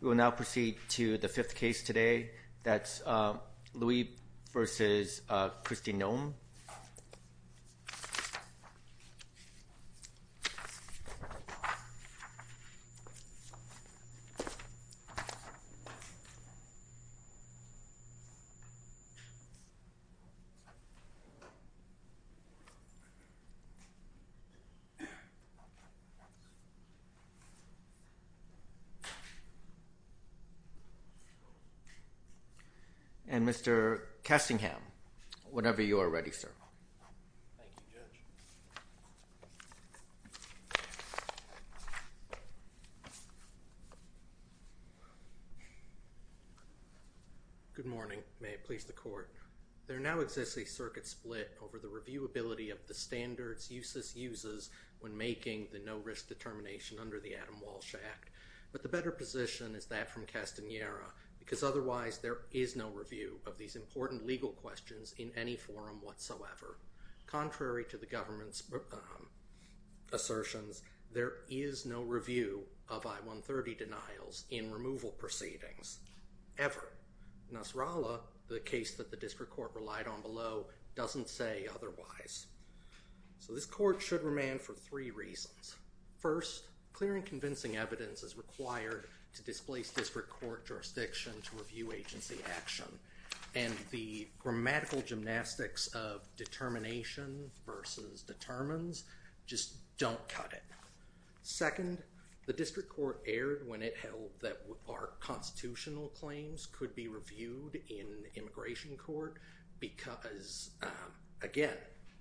We will now proceed to the fifth case today, that's Liu v. Kristi Noem. And Mr. Kessingham, whenever you are ready, sir. Thank you, Judge. Good morning. May it please the Court. There now exists a circuit split over the reviewability of the standards UCIS uses when making the no-risk determination under the Adam Walsh Act. But the better position is that from Castanera, because otherwise there is no review of these important legal questions in any forum whatsoever. Contrary to the government's assertions, there is no review of I-130 denials in removal proceedings, ever. Nasrallah, the case that the District Court relied on below, doesn't say otherwise. So this Court should remand for three reasons. First, clear and convincing evidence is required to displace District Court jurisdiction to review agency action. And the grammatical gymnastics of determination versus determines just don't cut it. Second, the District Court erred when it held that our constitutional claims could be reviewed in immigration court. Because, again,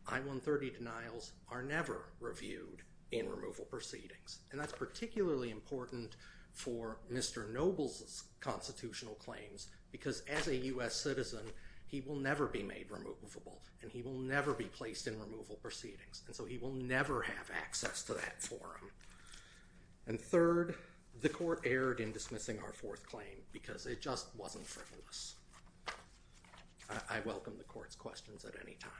I-130 denials are never reviewed in removal proceedings. And that's particularly important for Mr. Noble's constitutional claims. Because as a U.S. citizen, he will never be made removable. And he will never be placed in removal proceedings. And so he will never have access to that forum. And third, the Court erred in dismissing our fourth claim because it just wasn't frivolous. I welcome the Court's questions at any time.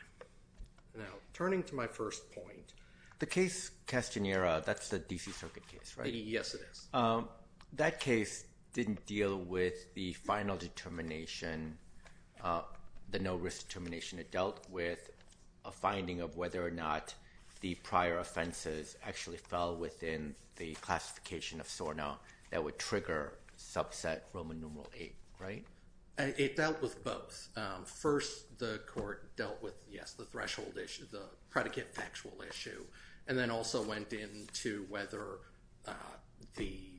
Now, turning to my first point, the case Castanera, that's the D.C. Circuit case, right? Yes, it is. That case didn't deal with the final determination, the no risk determination. It dealt with a finding of whether or not the prior offenses actually fell within the classification of SORNA that would trigger subset Roman numeral VIII, right? It dealt with both. First, the Court dealt with, yes, the threshold issue, the predicate factual issue. And then also went into whether the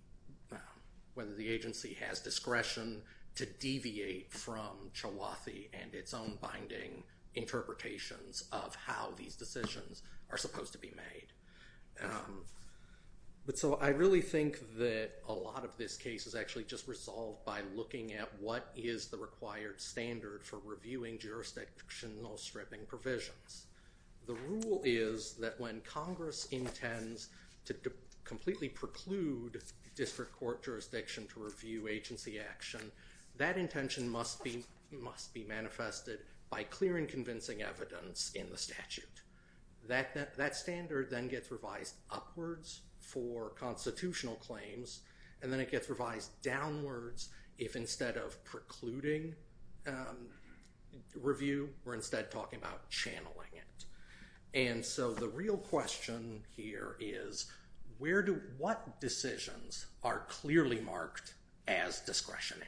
agency has discretion to deviate from Chawathi and its own binding interpretations of how these decisions are supposed to be made. But so I really think that a lot of this case is actually just resolved by looking at what is the required standard for reviewing jurisdictional stripping provisions. The rule is that when Congress intends to completely preclude district court jurisdiction to review agency action, that intention must be manifested by clear and convincing evidence in the statute. That standard then gets revised upwards for constitutional claims, and then it gets revised downwards if instead of precluding review, we're instead talking about channeling it. And so the real question here is, what decisions are clearly marked as discretionary?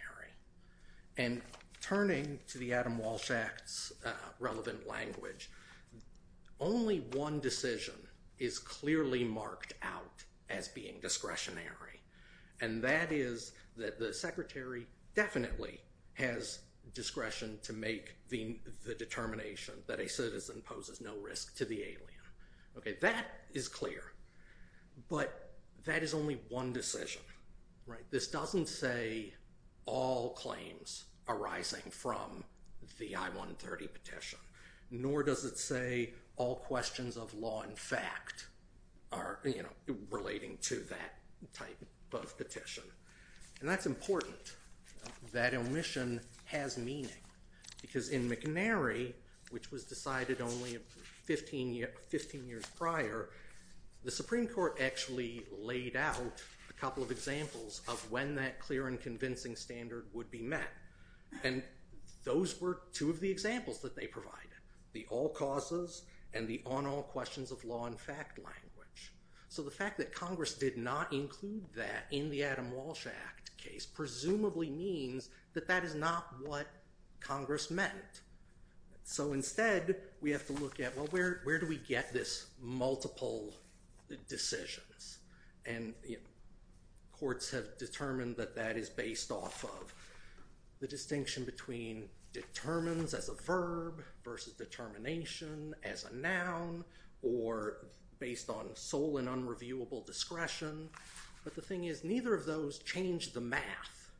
And turning to the Adam Walsh Act's relevant language, only one decision is clearly marked out as being discretionary. And that is that the secretary definitely has discretion to make the determination that a citizen poses no risk to the alien. Okay, that is clear. But that is only one decision, right? This doesn't say all claims arising from the I-130 petition, nor does it say all questions of law in fact are relating to that type of petition. And that's important. That omission has meaning. Because in McNary, which was decided only 15 years prior, the Supreme Court actually laid out a couple of examples of when that clear and convincing standard would be met. And those were two of the examples that they provided, the all causes and the on all questions of law in fact language. So the fact that Congress did not include that in the Adam Walsh Act case presumably means that that is not what Congress meant. So instead, we have to look at, well, where do we get this multiple decisions? And courts have determined that that is based off of the distinction between determines as a verb versus determination as a noun or based on sole and unreviewable discretion. But the thing is, neither of those change the math.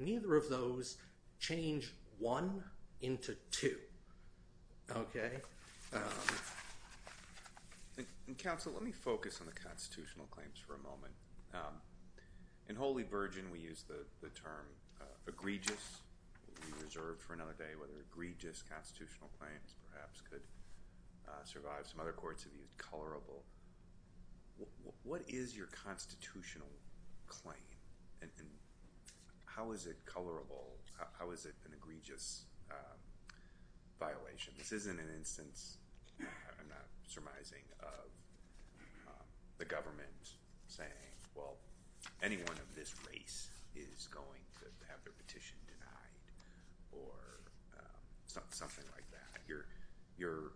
Neither of those change one into two. And counsel, let me focus on the constitutional claims for a moment. In Holy Virgin, we use the term egregious. We reserved for another day whether egregious constitutional claims perhaps could survive. Some other courts have used colorable. What is your constitutional claim? And how is it colorable? How is it an egregious violation? This isn't an instance, I'm not surmising, of the government saying, well, anyone of this race is going to have their petition denied or something like that. You're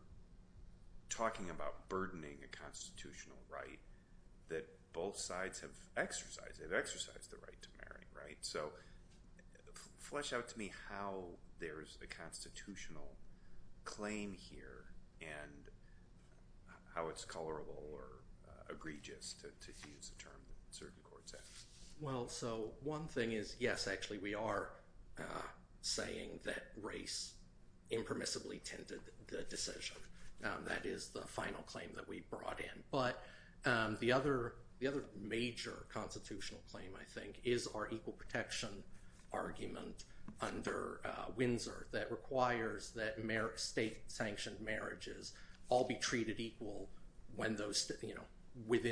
talking about burdening a constitutional right that both sides have exercised. They've exercised the right to marry, right? So flesh out to me how there's a constitutional claim here and how it's colorable or egregious to use the term that certain courts have. Well, so one thing is, yes, actually, we are saying that race impermissibly tended the decision. That is the final claim that we brought in. But the other major constitutional claim, I think, is our equal protection argument under Windsor that requires that state-sanctioned marriages all be treated equal within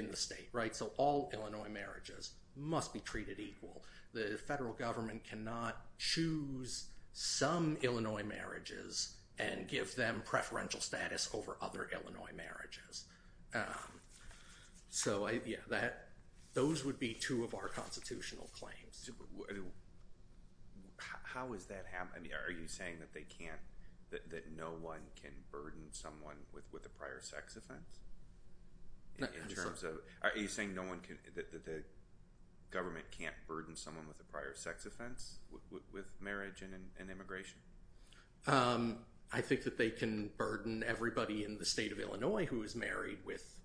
the state, right? So all Illinois marriages must be treated equal. The federal government cannot choose some Illinois marriages and give them preferential status over other Illinois marriages. So yeah, those would be two of our constitutional claims. How is that happening? Are you saying that no one can burden someone with a prior sex offense? Are you saying that the government can't burden someone with a prior sex offense with marriage and immigration? I think that they can burden everybody in the state of Illinois who is married with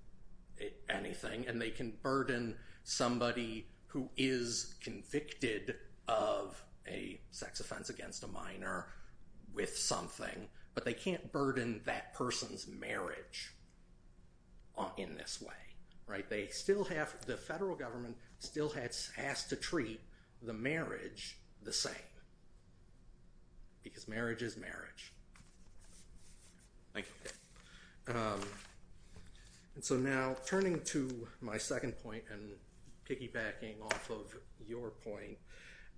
anything. And they can burden somebody who is convicted of a sex offense against a minor with something. But they can't burden that person's marriage in this way, right? The federal government still has to treat the marriage the same because marriage is marriage. Thank you. And so now turning to my second point and piggybacking off of your point,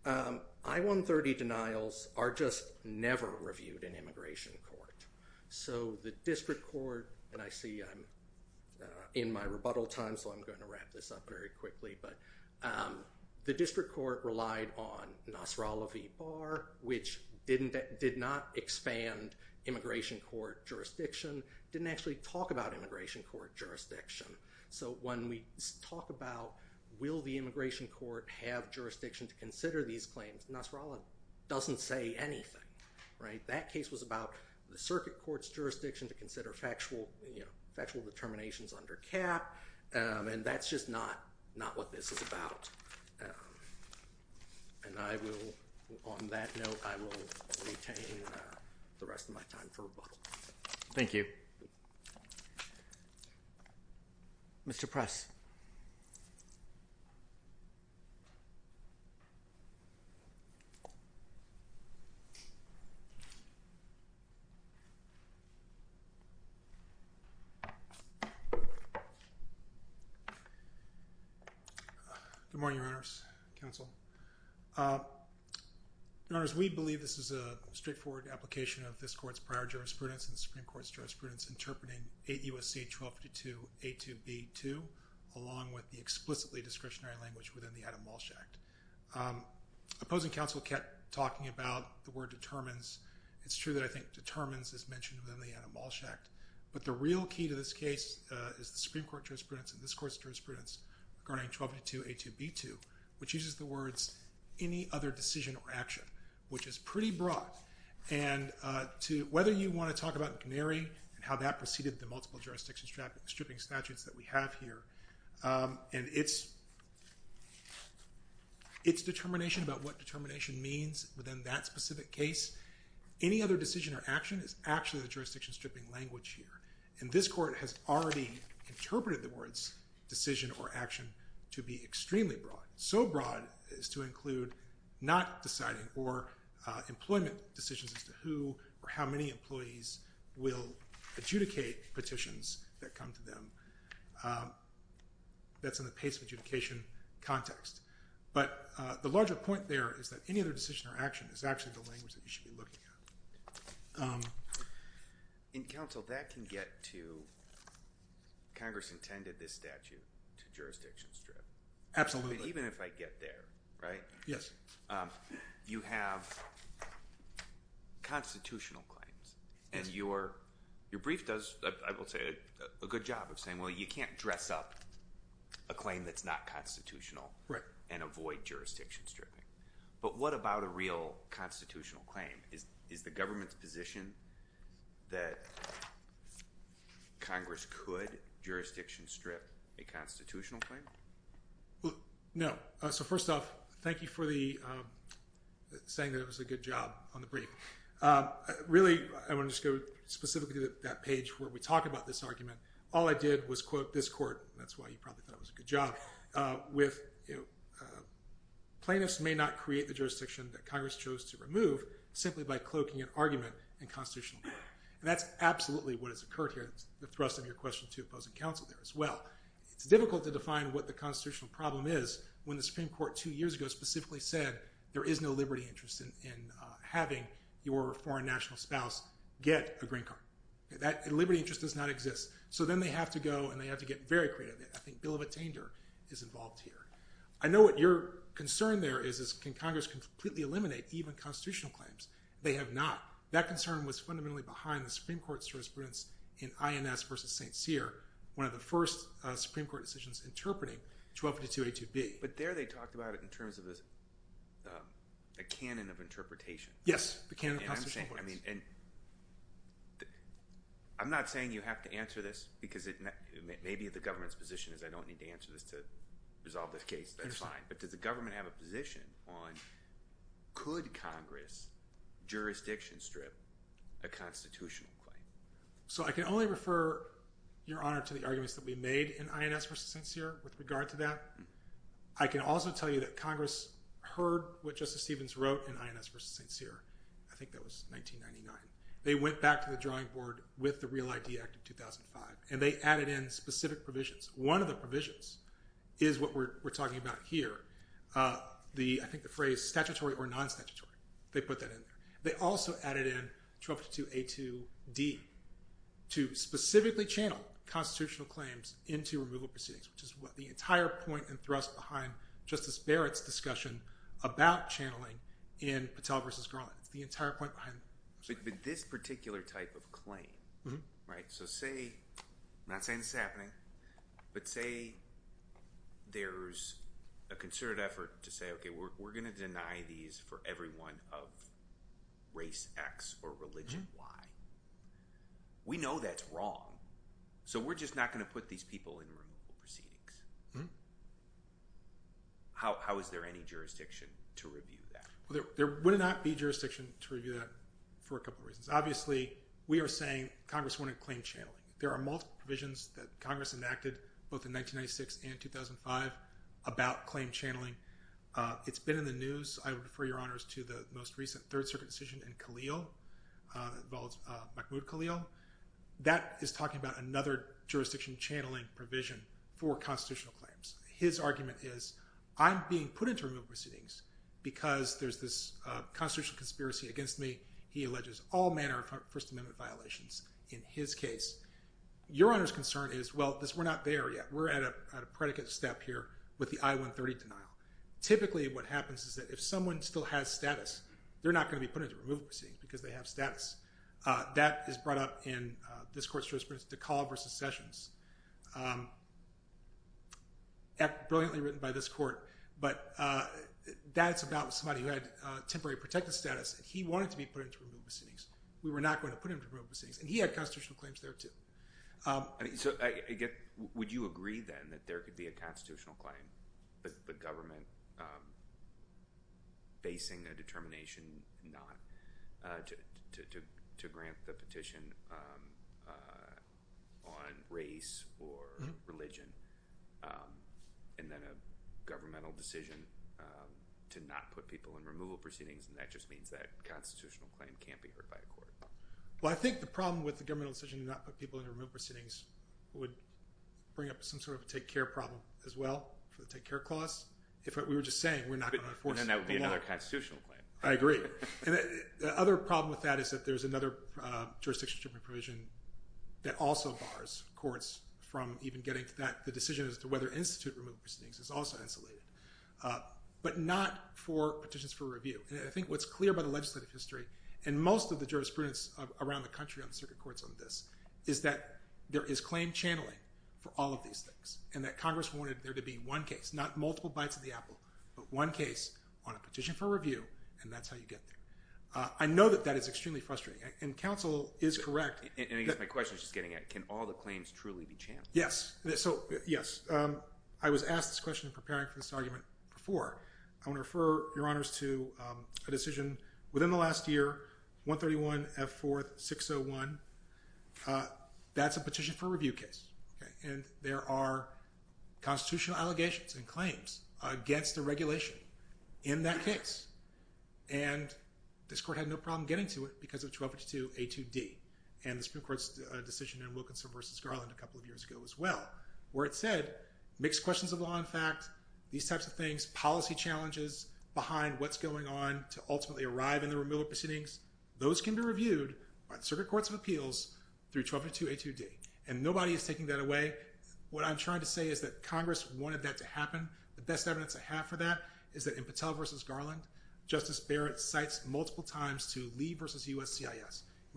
I-130 denials are just never reviewed in immigration court. So the district court, and I see I'm in my rebuttal time, so I'm going to wrap this up very quickly. But the district court relied on Nasrallah v. Barr, which did not expand immigration court jurisdiction, didn't actually talk about immigration court jurisdiction. So when we talk about will the immigration court have jurisdiction to consider these claims, Nasrallah doesn't say anything, right? That case was about the circuit court's jurisdiction to consider factual determinations under cap, and that's just not what this is about. And I will, on that note, I will retain the rest of my time for rebuttal. Thank you. Mr. Press. Good morning, Your Honors. Counsel. Your Honors, we believe this is a straightforward application of this court's prior jurisprudence and the Supreme Court's jurisprudence interpreting 8 U.S.C. 1252 A.2.B.2, along with the explicitly discretionary language within the Adam Walsh Act. Opposing counsel kept talking about the word determines. It's true that I think determines is mentioned within the Adam Walsh Act, but the real key to this case is the Supreme Court jurisprudence and this court's jurisprudence regarding 1252 A.2.B.2, which uses the words any other decision or action, which is pretty broad. And whether you want to talk about McNary and how that preceded the multiple jurisdiction stripping statutes that we have here, and its determination about what determination means within that specific case, any other decision or action is actually the jurisdiction stripping language here. And this court has already interpreted the words decision or action to be extremely broad. So broad as to include not deciding or employment decisions as to who or how many employees will adjudicate petitions that come to them. That's in the pace of adjudication context. But the larger point there is that any other decision or action is actually the language that you should be looking at. In counsel, that can get to Congress intended this statute to jurisdiction strip. Even if I get there, right? Yes. You have constitutional claims, and your brief does, I will say, a good job of saying, well, you can't dress up a claim that's not constitutional and avoid jurisdiction stripping. But what about a real constitutional claim? Is the government's position that Congress could jurisdiction strip a constitutional claim? Well, no. So first off, thank you for saying that it was a good job on the brief. Really, I want to just go specifically to that page where we talk about this argument. All I did was quote this court, and that's why you probably thought it was a good job, with plaintiffs may not create the jurisdiction that Congress chose to remove simply by cloaking an argument in constitutional law. And that's absolutely what has occurred here. That's the thrust of your question to opposing counsel there as well. It's difficult to define what the constitutional problem is when the Supreme Court two years ago specifically said there is no liberty interest in having your foreign national spouse get a green card. That liberty interest does not exist. So then they have to go, and they have to get very creative. I think Bill of Attainder is involved here. I know what your concern there is, is can Congress completely eliminate even constitutional claims? They have not. That concern was fundamentally behind the Supreme Court's jurisprudence in INS v. St. Cyr, one of the first Supreme Court decisions interpreting 1252a2b. But there they talked about it in terms of a canon of interpretation. Yes, the canon of constitutional points. I'm not saying you have to answer this because maybe the government's position is I don't need to answer this to resolve this case. That's fine. But does the government have a position on could Congress jurisdiction strip a constitutional claim? So I can only refer, Your Honor, to the arguments that we made in INS v. St. Cyr with regard to that. I can also tell you that Congress heard what Justice Stevens wrote in INS v. St. Cyr. I think that was 1999. They went back to the drawing board with the Real ID Act of 2005, and they added in specific provisions. One of the provisions is what we're talking about here, I think the phrase statutory or non-statutory. They put that in there. They also added in 1252a2d to specifically channel constitutional claims into removal proceedings, which is the entire point and thrust behind Justice Barrett's discussion about channeling in Patel v. Garland. It's the entire point behind it. But this particular type of claim, right? So say—I'm not saying this is happening—but say there's a concerted effort to say, okay, we're going to deny these for everyone of race X or religion Y. We know that's wrong. So we're just not going to put these people in removal proceedings. How is there any jurisdiction to review that? There would not be jurisdiction to review that for a couple of reasons. Obviously, we are saying Congress wanted claim channeling. There are multiple provisions that Congress enacted both in 1996 and 2005 about claim channeling. It's been in the news. I would refer your honors to the most recent Third Circuit decision in Khalil that involves Mahmoud Khalil. That is talking about another jurisdiction channeling provision for constitutional claims. His argument is, I'm being put into removal proceedings because there's this constitutional conspiracy against me. He alleges all manner of First Amendment violations in his case. Your honors' concern is, well, we're not there yet. We're at a predicate step here with the I-130 denial. Typically what happens is that if someone still has status, they're not going to be put into removal proceedings because they have status. That is brought up in this court's jurisprudence, DeCaul versus Sessions, brilliantly written by this court. But that's about somebody who had temporary protective status. He wanted to be put into removal proceedings. We were not going to put him into removal proceedings. And he had constitutional claims there too. Would you agree then that there could be a constitutional claim, the government basing a determination not to grant the petition on race or religion, and then a governmental decision to not put people in removal proceedings, and that just means that constitutional claim can't be heard by a court? Well, I think the problem with the governmental decision to not put people in removal proceedings would bring up some sort of a take-care problem as well, for the take-care clause, if what we were just saying, we're not going to enforce it. And that would be another constitutional claim. I agree. And the other problem with that is that there's another jurisdictional provision that also bars courts from even getting to that, the decision as to whether to institute removal proceedings is also insulated, but not for petitions for review. And I think what's clear by the legislative history, and most of the jurisprudence around the country on the circuit courts on this, is that there is claim channeling for all of these things, and that Congress wanted there to be one case, not multiple bites of the apple, but one case on a petition for review, and that's how you get there. I know that that is extremely frustrating, and counsel is correct. And I guess my question is just getting at, can all the claims truly be channeled? Yes. So, yes. I was asked this question in preparing for this argument before. I want to refer, Your Honors, to a decision within the last year, 131F4601. That's a petition for review case. And there are constitutional allegations and claims against the regulation in that case. And this court had no problem getting to it because of 1252A2D, and the Supreme Court's decision in Wilkinson v. Garland a couple of years ago as well, where it said mixed questions of law and fact, these types of things, policy challenges behind what's going on to ultimately arrive in the remittal proceedings, those can be reviewed by the circuit courts of appeals through 1252A2D. And nobody is taking that away. What I'm trying to say is that Congress wanted that to happen. The best evidence I have for that is that in Patel v. Garland, Justice Barrett cites multiple times to Lee v. USCIS. You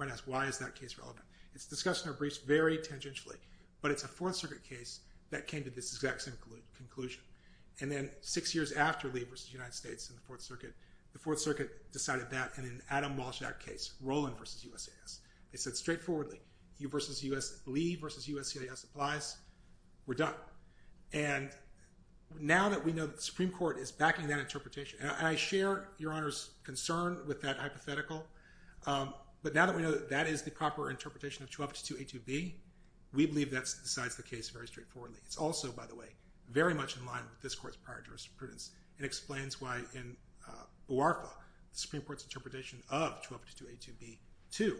might ask, why is that case relevant? It's discussed in our briefs very tangentially, but it's a Fourth Circuit case that came to this exact same conclusion. And then six years after Lee v. United States in the Fourth Circuit, the Fourth Circuit decided that, and then Adam Walsh in that case, Rowland v. USCIS. They said straightforwardly, Lee v. USCIS applies, we're done. And now that we know that the Supreme Court is backing that interpretation, and I share Your Honors' concern with that hypothetical, but now that we know that that is the proper interpretation of 1252A2B, we believe that decides the case very straightforwardly. It's also, by the way, very much in line with this Court's prior jurisprudence. It explains why in Buarfa, the Supreme Court's interpretation of 1252A2B2,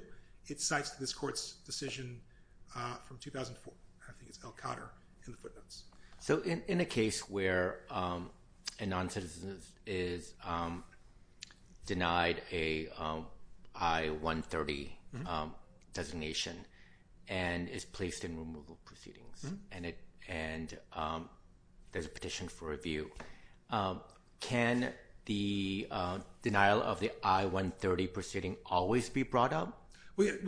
it cites this Court's decision from 2004. I think it's Elkotter in the footnotes. So in a case where a noncitizen is denied a I-130 designation and is placed in removal proceedings, and there's a petition for review, can the denial of the I-130 proceeding always be brought up?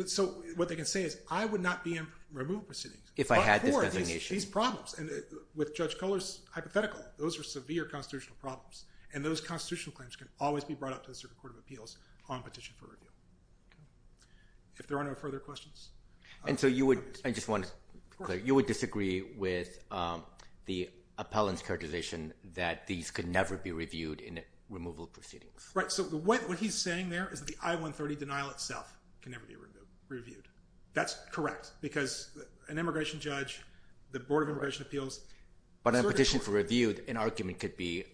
So what they can say is, I would not be in removal proceedings. If I had this designation. These problems, and with Judge Kohler's hypothetical, those are severe constitutional problems, and those constitutional claims can always be brought up to the Supreme Court of Appeals on petition for review. If there are no further questions. And so you would, I just want to say, you would disagree with the appellant's characterization that these could never be reviewed in removal proceedings. Right, so what he's saying there is that the I-130 denial itself can never be reviewed. That's correct, because an immigration judge, the Board of Immigration Appeals. But on a petition for review, an argument could be,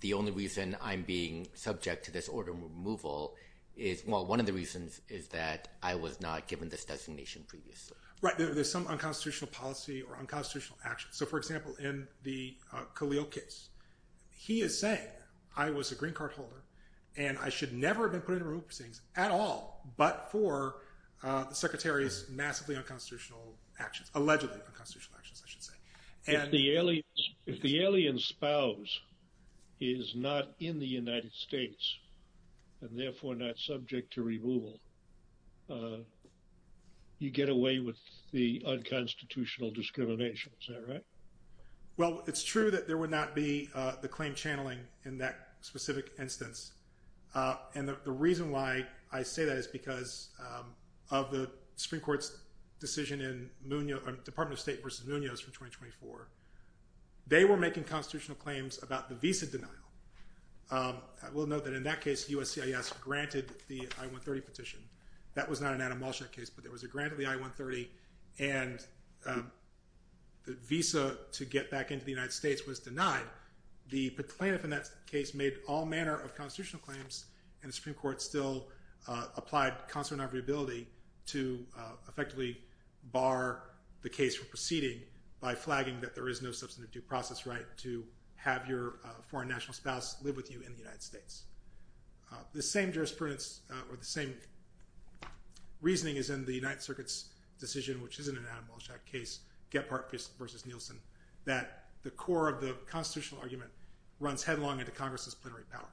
the only reason I'm being subject to this order of removal is, well, one of the reasons is that I was not given this designation previously. Right, there's some unconstitutional policy or unconstitutional action. So, for example, in the Khalil case, he is saying I was a green card holder and I should never have been put in removal proceedings at all but for the Secretary's massively unconstitutional actions, allegedly unconstitutional actions, I should say. If the alien spouse is not in the United States and therefore not subject to removal, you get away with the unconstitutional discrimination, is that right? Well, it's true that there would not be the claim channeling in that specific instance. And the reason why I say that is because of the Supreme Court's decision in Munoz, Department of State versus Munoz for 2024. They were making constitutional claims about the visa denial. I will note that in that case, USCIS granted the I-130 petition. That was not an Adam Malshak case, but there was a grant of the I-130 and the visa to get back into the United States was denied. The plaintiff in that case made all manner of constitutional claims and the Supreme Court still applied consternatory ability to effectively bar the case from proceeding by flagging that there is no substantive due process right to have your foreign national spouse live with you in the United States. The same jurisprudence or the same reasoning is in the United Circuit's decision, which isn't an Adam Malshak case, Gephardt versus Nielsen, that the core of the constitutional argument runs headlong into Congress's plenary power.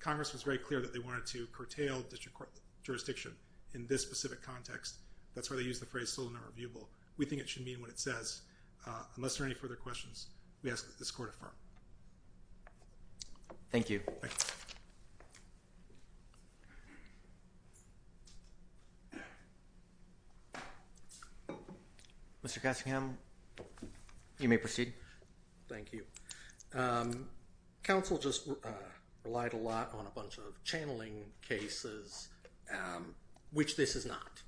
Congress was very clear that they wanted to curtail district court jurisdiction in this specific context. That's why they used the phrase still nonreviewable. We think it should mean what it says. Unless there are any further questions, we ask that this Court affirm. Thank you. Thank you. Mr. Cushingham, you may proceed. Thank you. Counsel just relied a lot on a bunch of channeling cases, which this is not.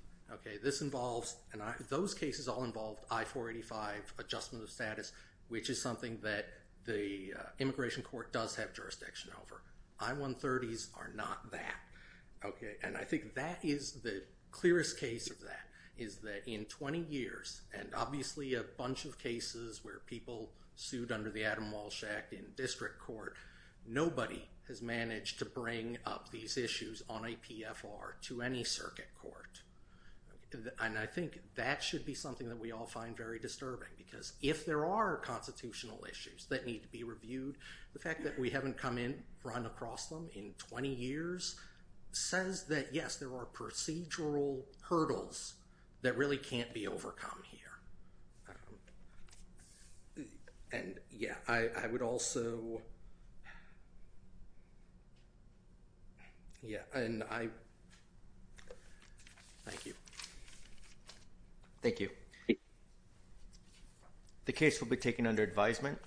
This involves and those cases all involved I-485 adjustment of status, which is something that the immigration court does have jurisdiction over. I-130s are not that. I think that is the clearest case of that is that in 20 years, and obviously a bunch of cases where people sued under the Adam Malshak in district court, nobody has managed to bring up these issues on a PFR to any circuit court. I think that should be something that we all find very disturbing because if there are constitutional issues that need to be reviewed, the fact that we haven't come in, run across them in 20 years, says that, yes, there are procedural hurdles that really can't be overcome here. And, yeah, I would also, yeah, and I, thank you. Thank you. The case will be taken under advisement.